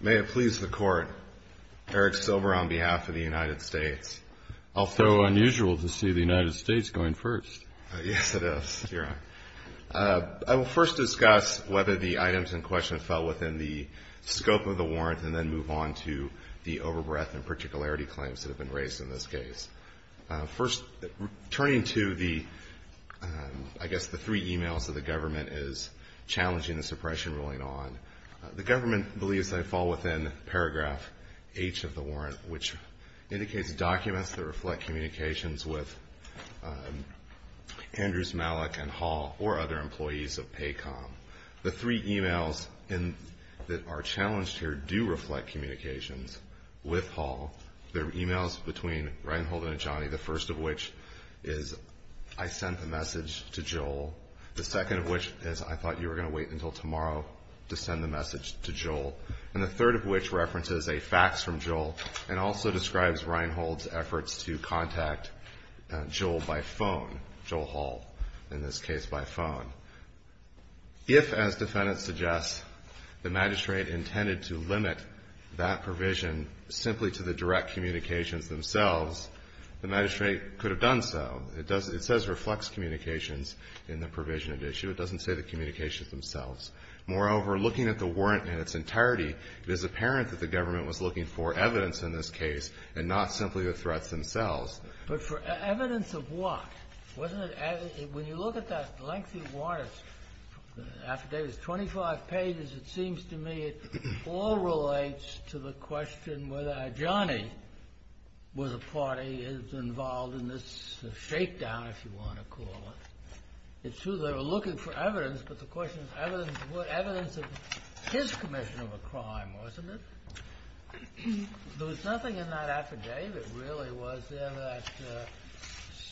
May it please the Court, Eric Silver on behalf of the United States. Although unusual to see the United States going first. Yes, it is. You're right. I will first discuss whether the items in question fell within the scope of the warrant and then move on to the overbreadth and particularity claims that have been raised in this case. First, turning to the, I guess the three emails that the government is challenging the suppression ruling on. The government believes they fall within paragraph H of the warrant, which indicates documents that reflect communications with Andrews, Malik, and Hall, or other employees of PACOM. The three emails that are challenged here do reflect communications with Hall. The emails between Reinhold and Adjani, the first of which is, I sent the message to Joel. The second of which is, I thought you were going to wait until tomorrow to send the message to Joel. And the third of which references a fax from Joel and also describes Reinhold's efforts to contact Joel by phone, Joel Hall in this case by phone. So if, as defendants suggest, the magistrate intended to limit that provision simply to the direct communications themselves, the magistrate could have done so. It says reflects communications in the provision of the issue. It doesn't say the communications themselves. Moreover, looking at the warrant in its entirety, it is apparent that the government was looking for evidence in this case and not simply the threats themselves. But for evidence of what? When you look at that lengthy warrant, the affidavit is 25 pages. It seems to me it all relates to the question whether Adjani was a party, is involved in this shakedown, if you want to call it. It's true they were looking for evidence, but the question is evidence of what? Evidence of his commission of a crime, wasn't it? There was nothing in that affidavit, really, was there, that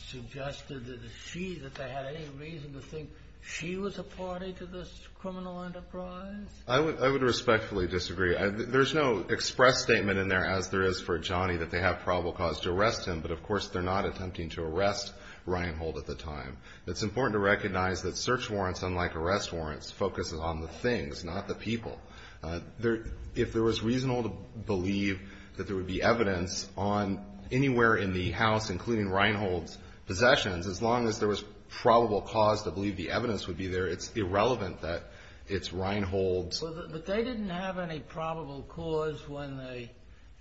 suggested that she, that they had any reason to think she was a party to this criminal enterprise? I would respectfully disagree. There's no express statement in there, as there is for Adjani, that they have probable cause to arrest him. But, of course, they're not attempting to arrest Reinhold at the time. It's important to recognize that search warrants, unlike arrest warrants, focus on the things, not the people. If there was reason to believe that there would be evidence on anywhere in the house, including Reinhold's possessions, as long as there was probable cause to believe the evidence would be there, it's irrelevant that it's Reinhold's. But they didn't have any probable cause when they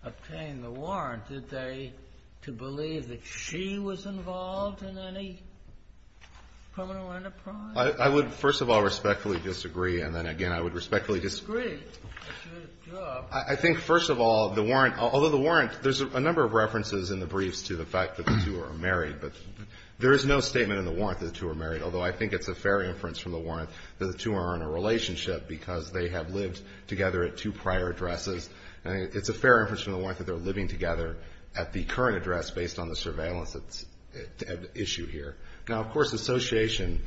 obtained the warrant, did they, to believe that she was involved in any criminal enterprise? I would, first of all, respectfully disagree. And then, again, I would respectfully disagree. I think, first of all, the warrant, although the warrant, there's a number of references in the briefs to the fact that the two are married. But there is no statement in the warrant that the two are married, although I think it's a fair inference from the warrant that the two are in a relationship because they have lived together at two prior addresses. And it's a fair inference from the warrant that they're living together at the current address based on the surveillance that's at issue here. Now, of course, association,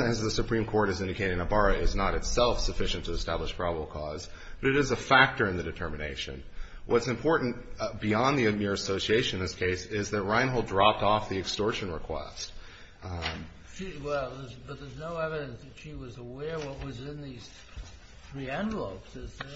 as the Supreme Court has indicated in Ibarra, is not itself sufficient to establish probable cause. But it is a factor in the determination. What's important beyond the amir association in this case is that Reinhold dropped off the extortion request. Well, but there's no evidence that she was aware what was in these three envelopes, is there?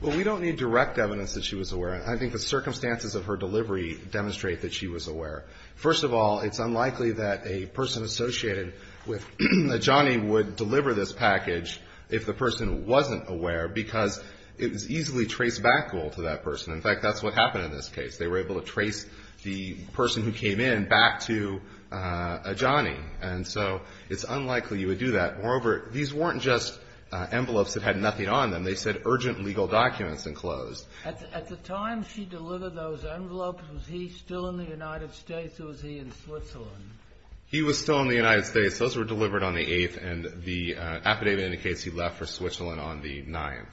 Well, we don't need direct evidence that she was aware. I think the circumstances of her delivery demonstrate that she was aware. First of all, it's unlikely that a person associated with Ajani would deliver this package if the person wasn't aware because it was easily trace-backable to that person. In fact, that's what happened in this case. They were able to trace the person who came in back to Ajani. And so it's unlikely you would do that. Moreover, these weren't just envelopes that had nothing on them. They said urgent legal documents enclosed. At the time she delivered those envelopes, was he still in the United States or was he in Switzerland? He was still in the United States. Those were delivered on the 8th, and the affidavit indicates he left for Switzerland on the 9th,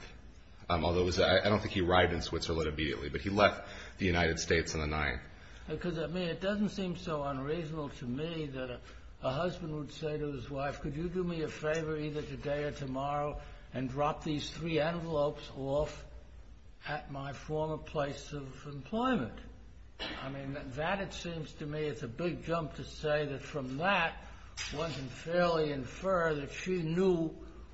although I don't think he arrived in Switzerland immediately. But he left the United States on the 9th. Because, I mean, it doesn't seem so unreasonable to me that a husband would say to his wife, could you do me a favor either today or tomorrow and drop these three envelopes off at my former place of employment? I mean, that it seems to me is a big jump to say that from that one can fairly infer that she knew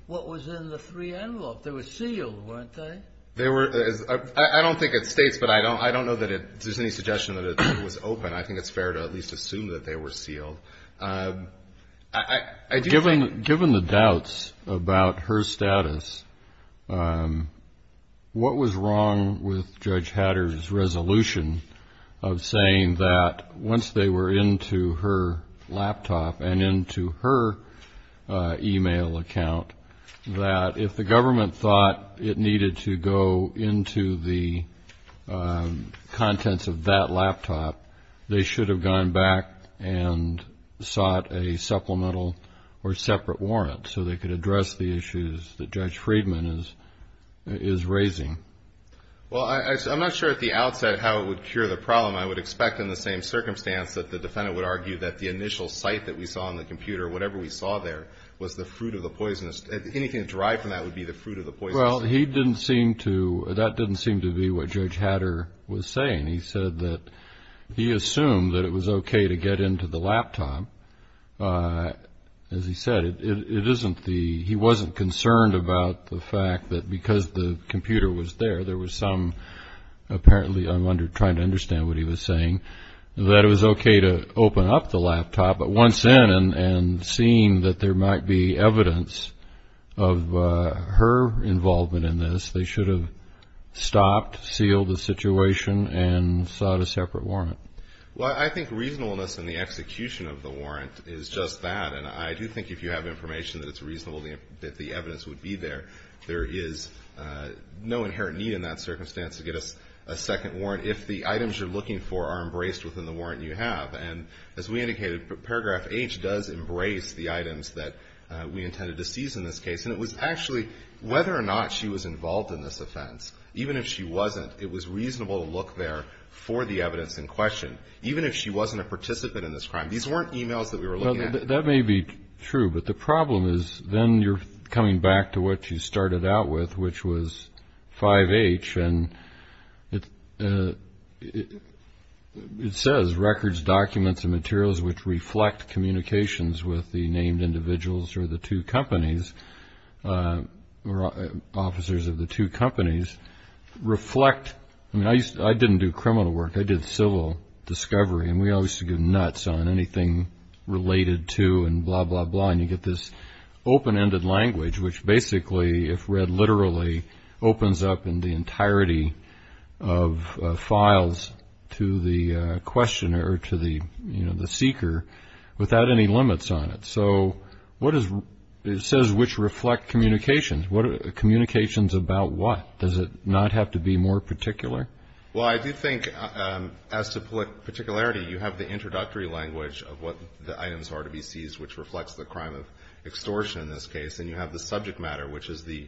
what was in the three envelopes. They were sealed, weren't they? I don't think it states, but I don't know that there's any suggestion that it was open. I think it's fair to at least assume that they were sealed. Given the doubts about her status, what was wrong with Judge Hatter's resolution of saying that once they were into her laptop and into her e-mail account, that if the government thought it needed to go into the contents of that laptop, they should have gone back and sought a supplemental or separate warrant so they could address the issues that Judge Friedman is raising? Well, I'm not sure at the outset how it would cure the problem. I would expect in the same circumstance that the defendant would argue that the initial sight that we saw on the computer, whatever we saw there, was the fruit of the poisonous. Anything derived from that would be the fruit of the poisonous. Well, he didn't seem to, that didn't seem to be what Judge Hatter was saying. He said that he assumed that it was okay to get into the laptop. As he said, it isn't the, he wasn't concerned about the fact that because the computer was there, there was some apparently trying to understand what he was saying, that it was okay to open up the laptop, but once in and seeing that there might be evidence of her involvement in this, they should have stopped, sealed the situation, and sought a separate warrant. Well, I think reasonableness in the execution of the warrant is just that, and I do think if you have information that it's reasonable that the evidence would be there. There is no inherent need in that circumstance to get a second warrant if the items you're looking for are embraced within the warrant you have. And as we indicated, Paragraph H does embrace the items that we intended to seize in this case, and it was actually whether or not she was involved in this offense, even if she wasn't, it was reasonable to look there for the evidence in question, even if she wasn't a participant in this crime. These weren't emails that we were looking at. That may be true, but the problem is then you're coming back to what you started out with, which was 5H, and it says, records, documents, and materials which reflect communications with the named individuals or the two companies or officers of the two companies reflect. I mean, I didn't do criminal work. I did civil discovery, and we always used to go nuts on anything related to and blah, blah, blah, and you get this open-ended language which basically, if read literally, opens up in the entirety of files to the questioner or to the seeker without any limits on it. So it says which reflect communications. Communications about what? Does it not have to be more particular? Well, I do think as to particularity, you have the introductory language of what the items are to be seized, which reflects the crime of extortion in this case, and you have the subject matter, which is the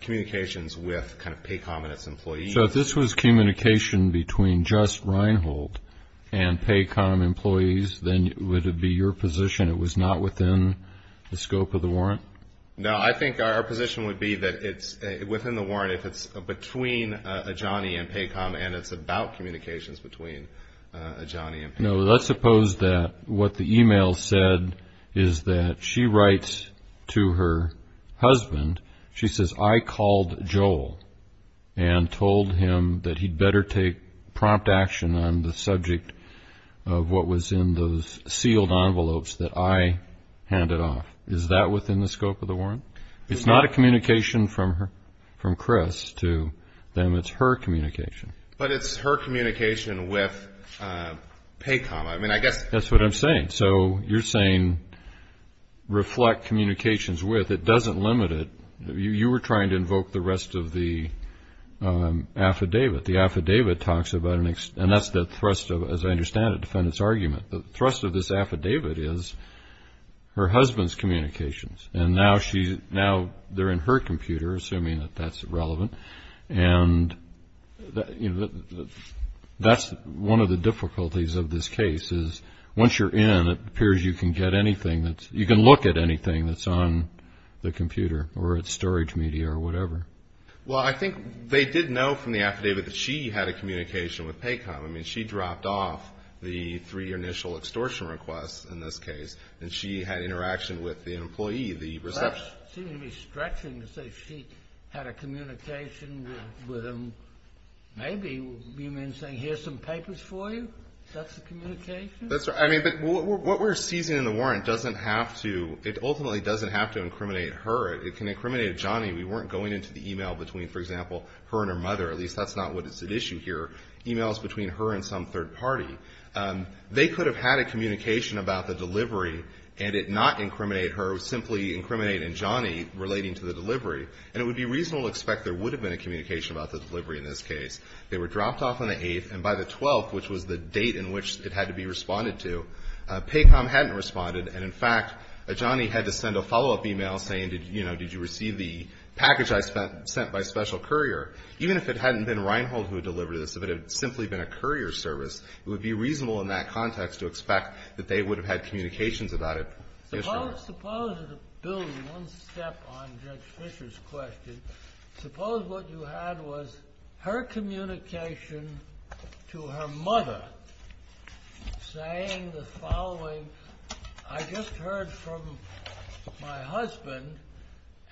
communications with kind of PACOM and its employees. So if this was communication between just Reinhold and PACOM employees, then would it be your position it was not within the scope of the warrant? No, I think our position would be that it's within the warrant. I'm sorry if it's between Ajani and PACOM and it's about communications between Ajani and PACOM. No, let's suppose that what the e-mail said is that she writes to her husband. She says, I called Joel and told him that he'd better take prompt action on the subject of what was in those sealed envelopes that I handed off. Is that within the scope of the warrant? It's not a communication from Chris to them. It's her communication. But it's her communication with PACOM. I mean, I guess that's what I'm saying. So you're saying reflect communications with. It doesn't limit it. You were trying to invoke the rest of the affidavit. The affidavit talks about an – and that's the thrust of, as I understand it, defendant's argument. The thrust of this affidavit is her husband's communications, and now they're in her computer, assuming that that's relevant. And that's one of the difficulties of this case is once you're in, it appears you can get anything that's – you can look at anything that's on the computer or at storage media or whatever. Well, I think they did know from the affidavit that she had a communication with PACOM. I mean, she dropped off the three initial extortion requests in this case, and she had interaction with the employee, the receptionist. It seems to be stretching to say she had a communication with them. Maybe you mean saying here's some papers for you? That's the communication? I mean, but what we're seizing in the warrant doesn't have to – it ultimately doesn't have to incriminate her. It can incriminate Johnny. We weren't going into the e-mail between, for example, her and her mother. At least that's not what is at issue here, e-mails between her and some third party. They could have had a communication about the delivery and it not incriminate her, it would simply incriminate in Johnny relating to the delivery. And it would be reasonable to expect there would have been a communication about the delivery in this case. They were dropped off on the 8th, and by the 12th, which was the date in which it had to be responded to, PACOM hadn't responded. And, in fact, Johnny had to send a follow-up e-mail saying, you know, did you receive the package I sent by special courier? Even if it hadn't been Reinhold who delivered this, if it had simply been a courier service, it would be reasonable in that context to expect that they would have had communications about it. Suppose, Bill, one step on Judge Fisher's question. Suppose what you had was her communication to her mother saying the following. I just heard from my husband,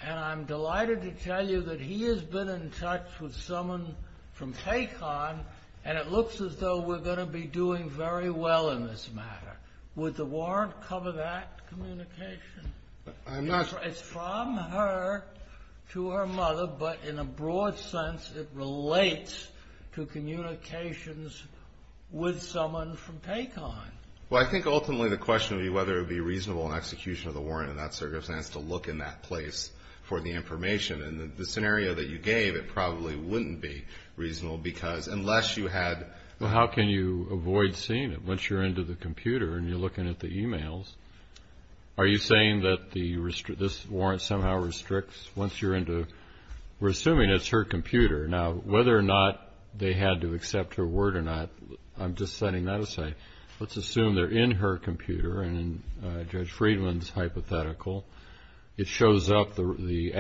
and I'm delighted to tell you that he has been in touch with someone from PACOM, and it looks as though we're going to be doing very well in this matter. Would the warrant cover that communication? I'm not. It's from her to her mother, but in a broad sense, it relates to communications with someone from PACOM. Well, I think ultimately the question would be whether it would be reasonable in execution of the warrant in that circumstance to look in that place for the information. And the scenario that you gave, it probably wouldn't be reasonable because unless you had... Well, how can you avoid seeing it? Once you're into the computer and you're looking at the e-mails, are you saying that this warrant somehow restricts once you're into... We're assuming it's her computer. Now, whether or not they had to accept her word or not, I'm just setting that aside. Let's assume they're in her computer and in Judge Friedman's hypothetical. It shows up... The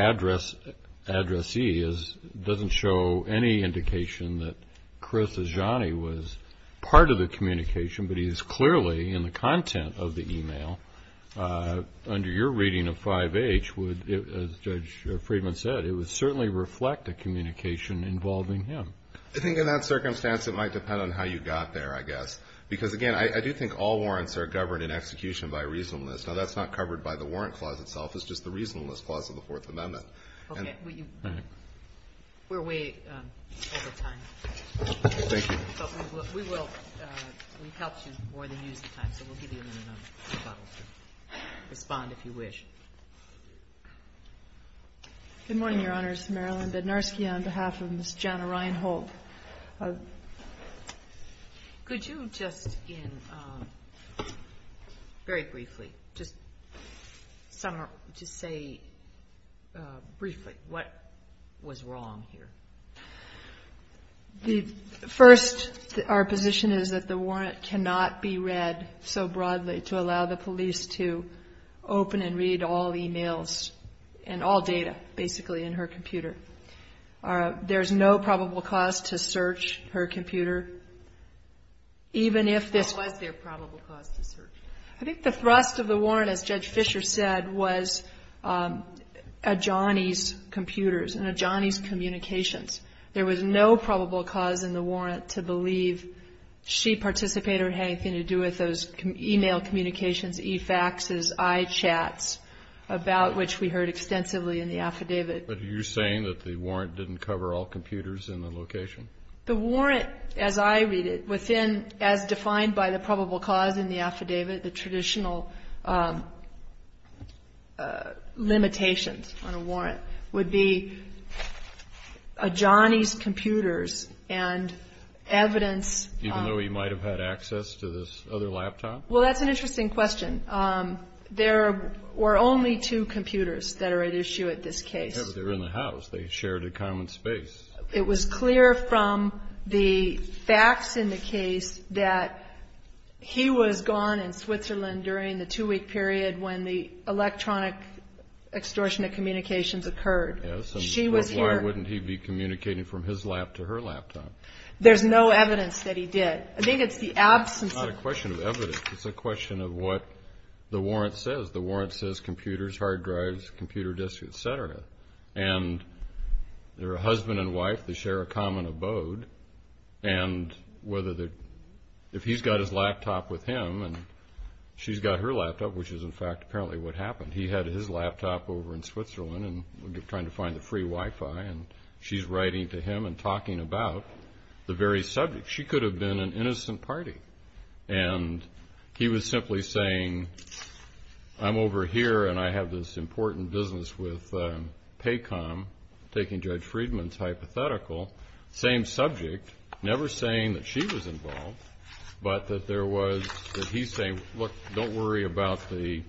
addressee doesn't show any indication that Chris Ajani was part of the communication, but he is clearly in the content of the e-mail. Under your reading of 5H, as Judge Friedman said, it would certainly reflect a communication involving him. I think in that circumstance it might depend on how you got there, I guess. Because, again, I do think all warrants are governed in execution by reasonableness. Now, that's not covered by the warrant clause itself. It's just the reasonableness clause of the Fourth Amendment. Okay. We're way over time. Thank you. But we will help you more than use the time, so we'll give you a minute and a half to respond if you wish. Good morning, Your Honors. Marilyn Bednarski on behalf of Ms. Jana Ryan-Holt. Could you just, very briefly, just say briefly what was wrong here? First, our position is that the warrant cannot be read so broadly to allow the police to open and read all e-mails and all data, basically, in her computer. There's no probable cause to search her computer, even if this was their probable cause to search. I think the thrust of the warrant, as Judge Fisher said, was Adjani's computers and Adjani's communications. There was no probable cause in the warrant to believe she participated in having anything to do with those e-mail communications, e-faxes, i-chats, about which we heard extensively in the affidavit. But are you saying that the warrant didn't cover all computers in the location? The warrant, as I read it, within, as defined by the probable cause in the affidavit, the traditional limitations on a warrant would be Adjani's computers and evidence Even though he might have had access to this other laptop? Well, that's an interesting question. There were only two computers that are at issue at this case. Yeah, but they were in the house. They shared a common space. It was clear from the facts in the case that he was gone in Switzerland during the two-week period when the electronic extortionate communications occurred. Yes, but why wouldn't he be communicating from his lap to her laptop? There's no evidence that he did. I think it's the absence of evidence. It's a question of what the warrant says. The warrant says computers, hard drives, computer disks, et cetera. And they're a husband and wife. They share a common abode. And if he's got his laptop with him and she's got her laptop, which is, in fact, apparently what happened. He had his laptop over in Switzerland and was trying to find the free Wi-Fi, and she's writing to him and talking about the very subject. She could have been an innocent party. And he was simply saying, I'm over here and I have this important business with PACOM, taking Judge Friedman's hypothetical, same subject, never saying that she was involved, but that there was that he's saying, look, don't worry about the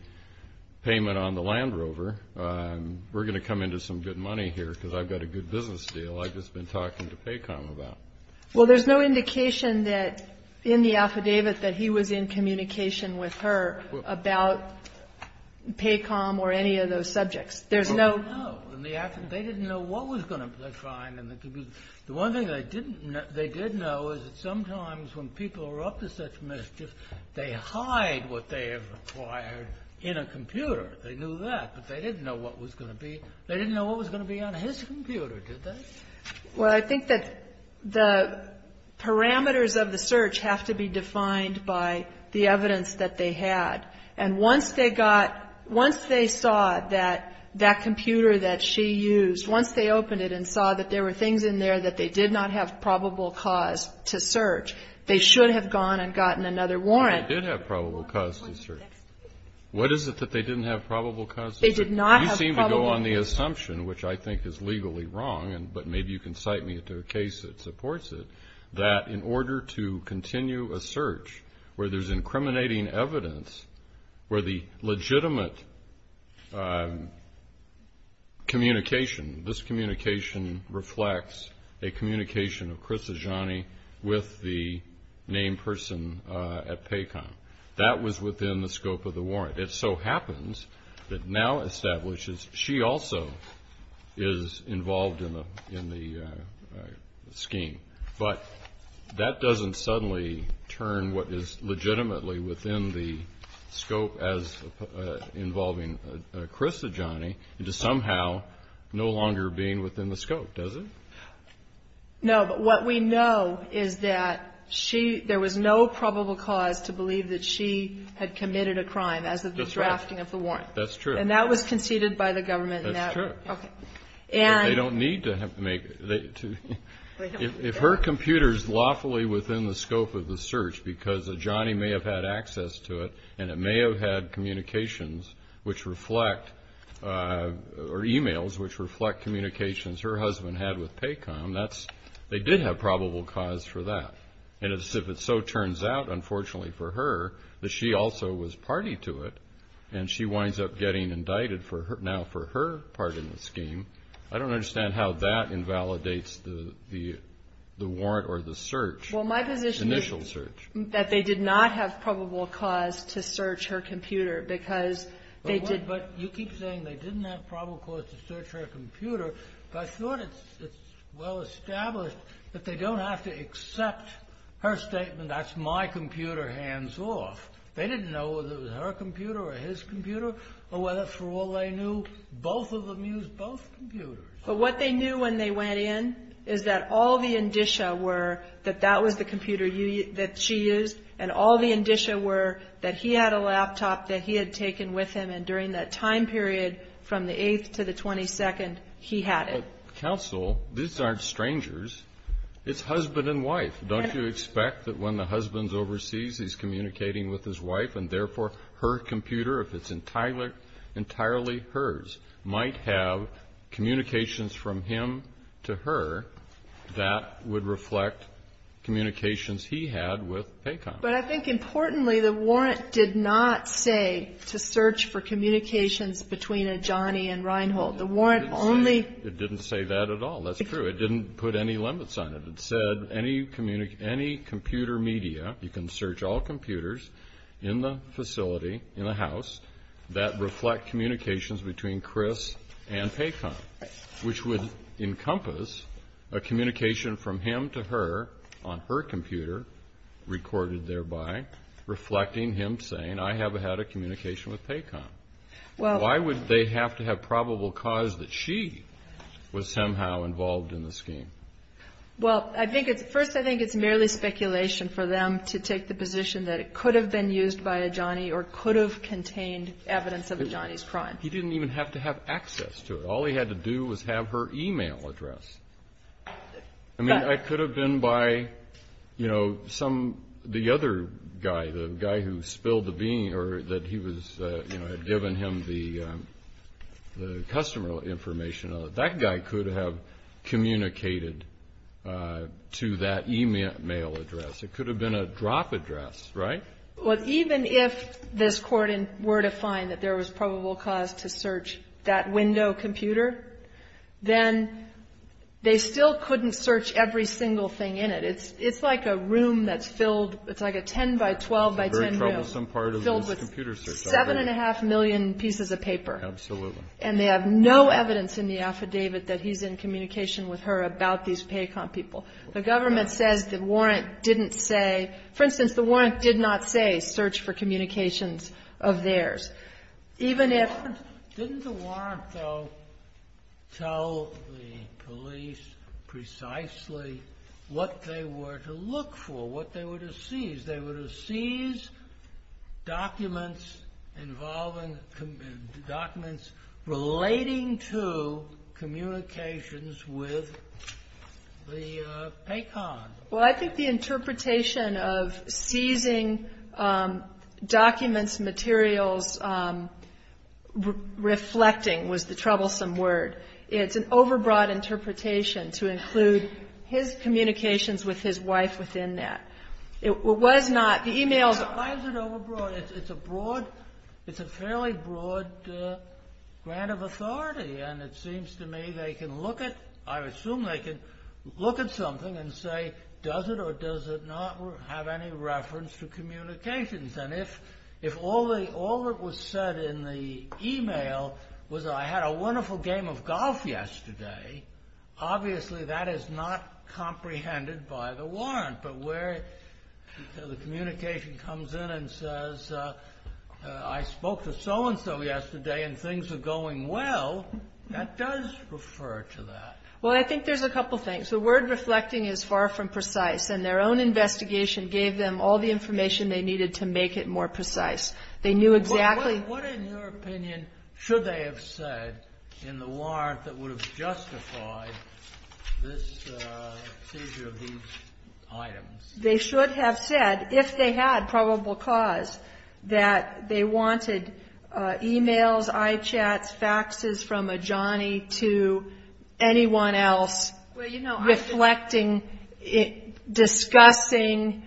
payment on the Land Rover. We're going to come into some good money here because I've got a good business deal I've just been talking to PACOM about. Well, there's no indication that in the affidavit that he was in communication with her about PACOM or any of those subjects. There's no ---- No. In the affidavit, they didn't know what was going to be found in the computer. The one thing they didn't know, they did know, is that sometimes when people are up to such mischief, they hide what they have acquired in a computer. They knew that. But they didn't know what was going to be. They didn't know what was going to be on his computer, did they? Well, I think that the parameters of the search have to be defined by the evidence that they had. And once they got ---- once they saw that that computer that she used, once they opened it and saw that there were things in there that they did not have probable cause to search, they should have gone and gotten another warrant. They did have probable cause to search. What is it that they didn't have probable cause to search? They did not have probable cause to search. You seem to go on the assumption, which I think is legally wrong, but maybe you can cite me to a case that supports it, that in order to continue a search where there's incriminating evidence, where the legitimate communication, this communication reflects a communication of Chris Azzani with the named person at PACOM. That was within the scope of the warrant. It so happens that now establishes she also is involved in the scheme. But that doesn't suddenly turn what is legitimately within the scope as involving Chris Azzani into somehow no longer being within the scope, does it? No, but what we know is that she ---- to believe that she had committed a crime as of the drafting of the warrant. That's true. And that was conceded by the government. That's true. Okay. And ---- They don't need to make it. If her computer is lawfully within the scope of the search because Azzani may have had access to it and it may have had communications which reflect or e-mails which reflect communications her husband had with PACOM, they did have probable cause for that. And if it so turns out, unfortunately for her, that she also was party to it and she winds up getting indicted now for her part in the scheme, I don't understand how that invalidates the warrant or the search, initial search. Well, my position is that they did not have probable cause to search her computer because they did ---- But you keep saying they didn't have probable cause to search her computer. I thought it's well established that they don't have to accept her statement, that's my computer, hands off. They didn't know whether it was her computer or his computer or whether for all they knew, both of them used both computers. But what they knew when they went in is that all the indicia were that that was the computer that she used and all the indicia were that he had a laptop that he had taken with him and during that time period from the 8th to the 22nd, he had it. But counsel, these aren't strangers. It's husband and wife. Don't you expect that when the husband's overseas, he's communicating with his wife and therefore her computer, if it's entirely hers, might have communications from him to her that would reflect communications he had with PACOM. But I think importantly, the warrant did not say to search for communications between Ajani and Reinhold. The warrant only ---- It didn't say that at all. That's true. It didn't put any limits on it. It said any computer media, you can search all computers in the facility, in the house, that reflect communications between Chris and PACOM, which would encompass a communication from him to her on her computer recorded thereby reflecting him saying, I have had a communication with PACOM. Why would they have to have probable cause that she was somehow involved in the scheme? Well, I think it's ---- First, I think it's merely speculation for them to take the position that it could have been used by Ajani or could have contained evidence of Ajani's crime. He didn't even have to have access to it. All he had to do was have her email address. I mean, it could have been by, you know, some ---- the other guy, the guy who spilled the bean or that he was, you know, had given him the customer information. That guy could have communicated to that email address. It could have been a drop address, right? Well, even if this court were to find that there was probable cause to search that window computer, then they still couldn't search every single thing in it. It's like a room that's filled ---- it's like a 10-by-12-by-10 room. It's a very troublesome part of this computer search. Filled with 7.5 million pieces of paper. Absolutely. And they have no evidence in the affidavit that he's in communication with her about these PACOM people. The government says the warrant didn't say ---- for instance, the warrant did not say search for communications of theirs. Didn't the warrant, though, tell the police precisely what they were to look for, what they were to seize? They were to seize documents involving ---- documents relating to communications with the PACOM. Well, I think the interpretation of seizing documents, materials, reflecting, was the troublesome word. It's an overbroad interpretation to include his communications with his wife within that. It was not ---- the emails ---- Why is it overbroad? It's a broad ---- it's a fairly broad grant of authority. And it seems to me they can look at ---- I assume they can look at something and say, does it or does it not have any reference to communications? And if all that was said in the email was, I had a wonderful game of golf yesterday, obviously that is not comprehended by the warrant. But where the communication comes in and says, I spoke to so-and-so yesterday and things are going well, that does refer to that. Well, I think there's a couple things. The word reflecting is far from precise. And their own investigation gave them all the information they needed to make it more precise. They knew exactly ---- But what, in your opinion, should they have said in the warrant that would have justified this seizure of these items? They should have said, if they had probable cause, that they wanted emails, iChats, faxes from a Johnny to anyone else reflecting, discussing,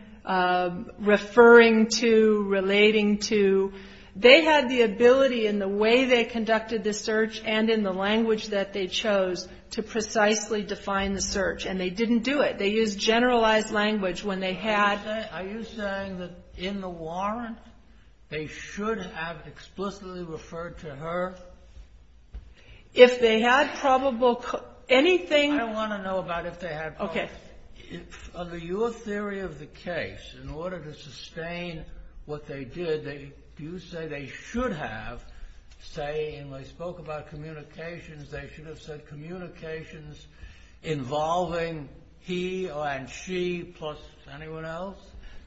referring to, relating to. They had the ability in the way they conducted the search and in the language that they chose to precisely define the search. And they didn't do it. They used generalized language when they had ---- Are you saying that in the warrant they should have explicitly referred to her? If they had probable ---- I want to know about if they had probable. Okay. Under your theory of the case, in order to sustain what they did, do you say they should have, say, and I spoke about communications, they should have said communications involving he and she plus anyone else?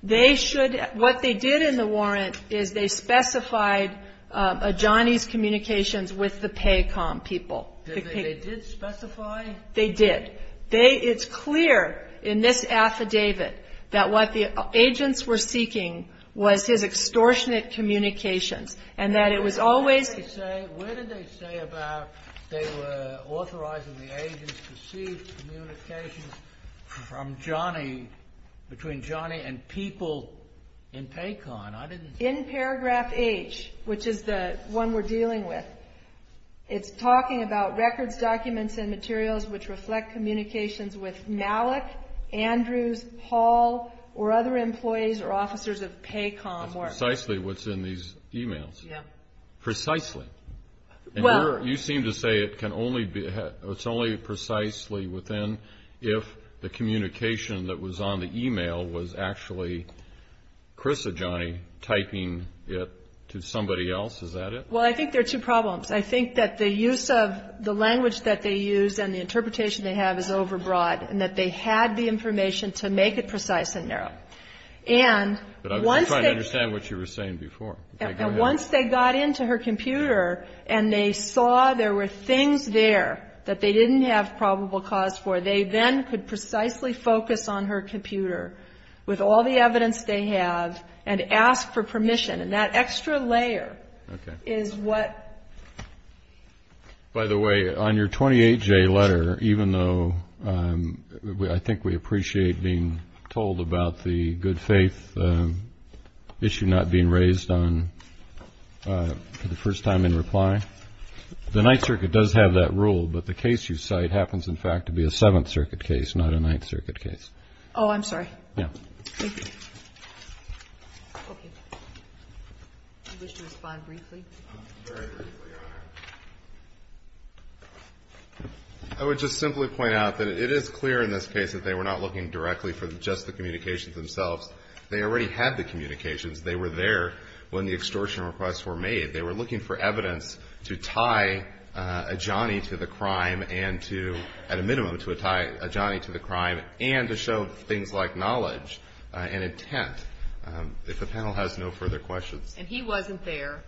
They should ---- What they did in the warrant is they specified a Johnny's communications with the Paycom people. They did specify? They did. It's clear in this affidavit that what the agents were seeking was his extortionate communications and that it was always ---- Where did they say about they were authorizing the agents to seek communications from Johnny, between Johnny and people in Paycom? I didn't ---- In paragraph H, which is the one we're dealing with, it's talking about records, documents, and materials which reflect communications with Malik, Andrews, Hall, or other employees or officers of Paycom or ---- That's precisely what's in these e-mails. Yeah. Precisely. Well ---- You seem to say it can only be, it's only precisely within if the communication that was on the e-mail was actually Chris or Johnny typing it to somebody else. Is that it? Well, I think there are two problems. I think that the use of the language that they use and the interpretation they have is overbroad and that they had the information to make it precise and narrow. And once they ---- But I'm trying to understand what you were saying before. Okay. Go ahead. And once they got into her computer and they saw there were things there that they didn't have probable cause for, they then could precisely focus on her computer with all the evidence they have and ask for permission. And that extra layer is what ---- By the way, on your 28J letter, even though I think we appreciate being told about the good faith issue not being raised for the first time in reply, the Ninth Circuit does have that rule, but the case you cite happens, in fact, to be a Seventh Circuit case, not a Ninth Circuit case. Oh, I'm sorry. Yeah. Thank you. Okay. Do you wish to respond briefly? Very briefly, Your Honor. I would just simply point out that it is clear in this case that they were not looking directly for just the communications themselves. They already had the communications. They were there when the extortion requests were made. They were looking for evidence to tie Ajani to the crime and to ---- if the panel has no further questions. And he wasn't there,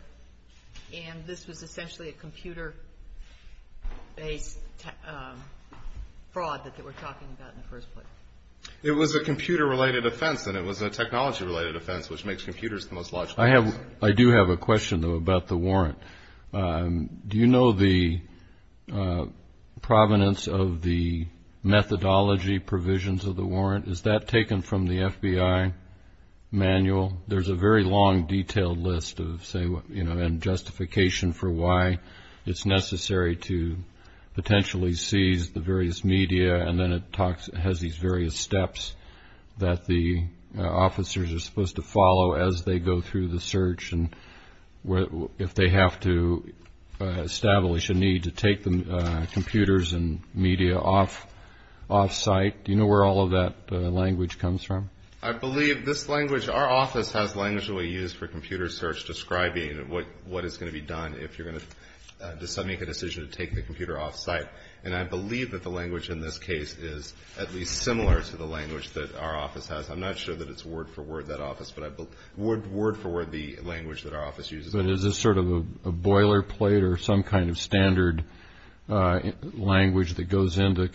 and this was essentially a computer-based fraud that they were talking about in the first place. It was a computer-related offense, and it was a technology-related offense, which makes computers the most logical. I do have a question, though, about the warrant. Do you know the provenance of the methodology provisions of the warrant? Is that taken from the FBI manual? There's a very long, detailed list and justification for why it's necessary to potentially seize the various media, and then it has these various steps that the officers are supposed to follow as they go through the search and if they have to establish a need to take the computers and media off-site. Do you know where all of that language comes from? I believe this language ---- our office has language that we use for computer search describing what is going to be done if you're going to decide to make a decision to take the computer off-site, and I believe that the language in this case is at least similar to the language that our office has. I'm not sure that it's word-for-word, that office, but word-for-word, the language that our office uses. But is this sort of a boilerplate or some kind of standard language that goes into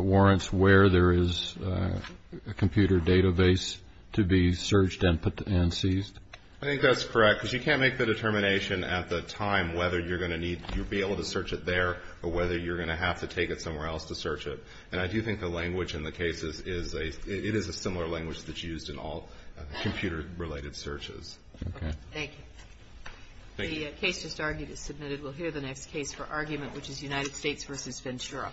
warrants where there is a computer database to be searched and seized? I think that's correct because you can't make the determination at the time whether you're going to need to be able to search it there or whether you're going to have to take it somewhere else to search it. And I do think the language in the case is a similar language that's used in all computer-related searches. Okay. Thank you. The case just argued is submitted. We'll hear the next case for argument, which is United States v. Ventura.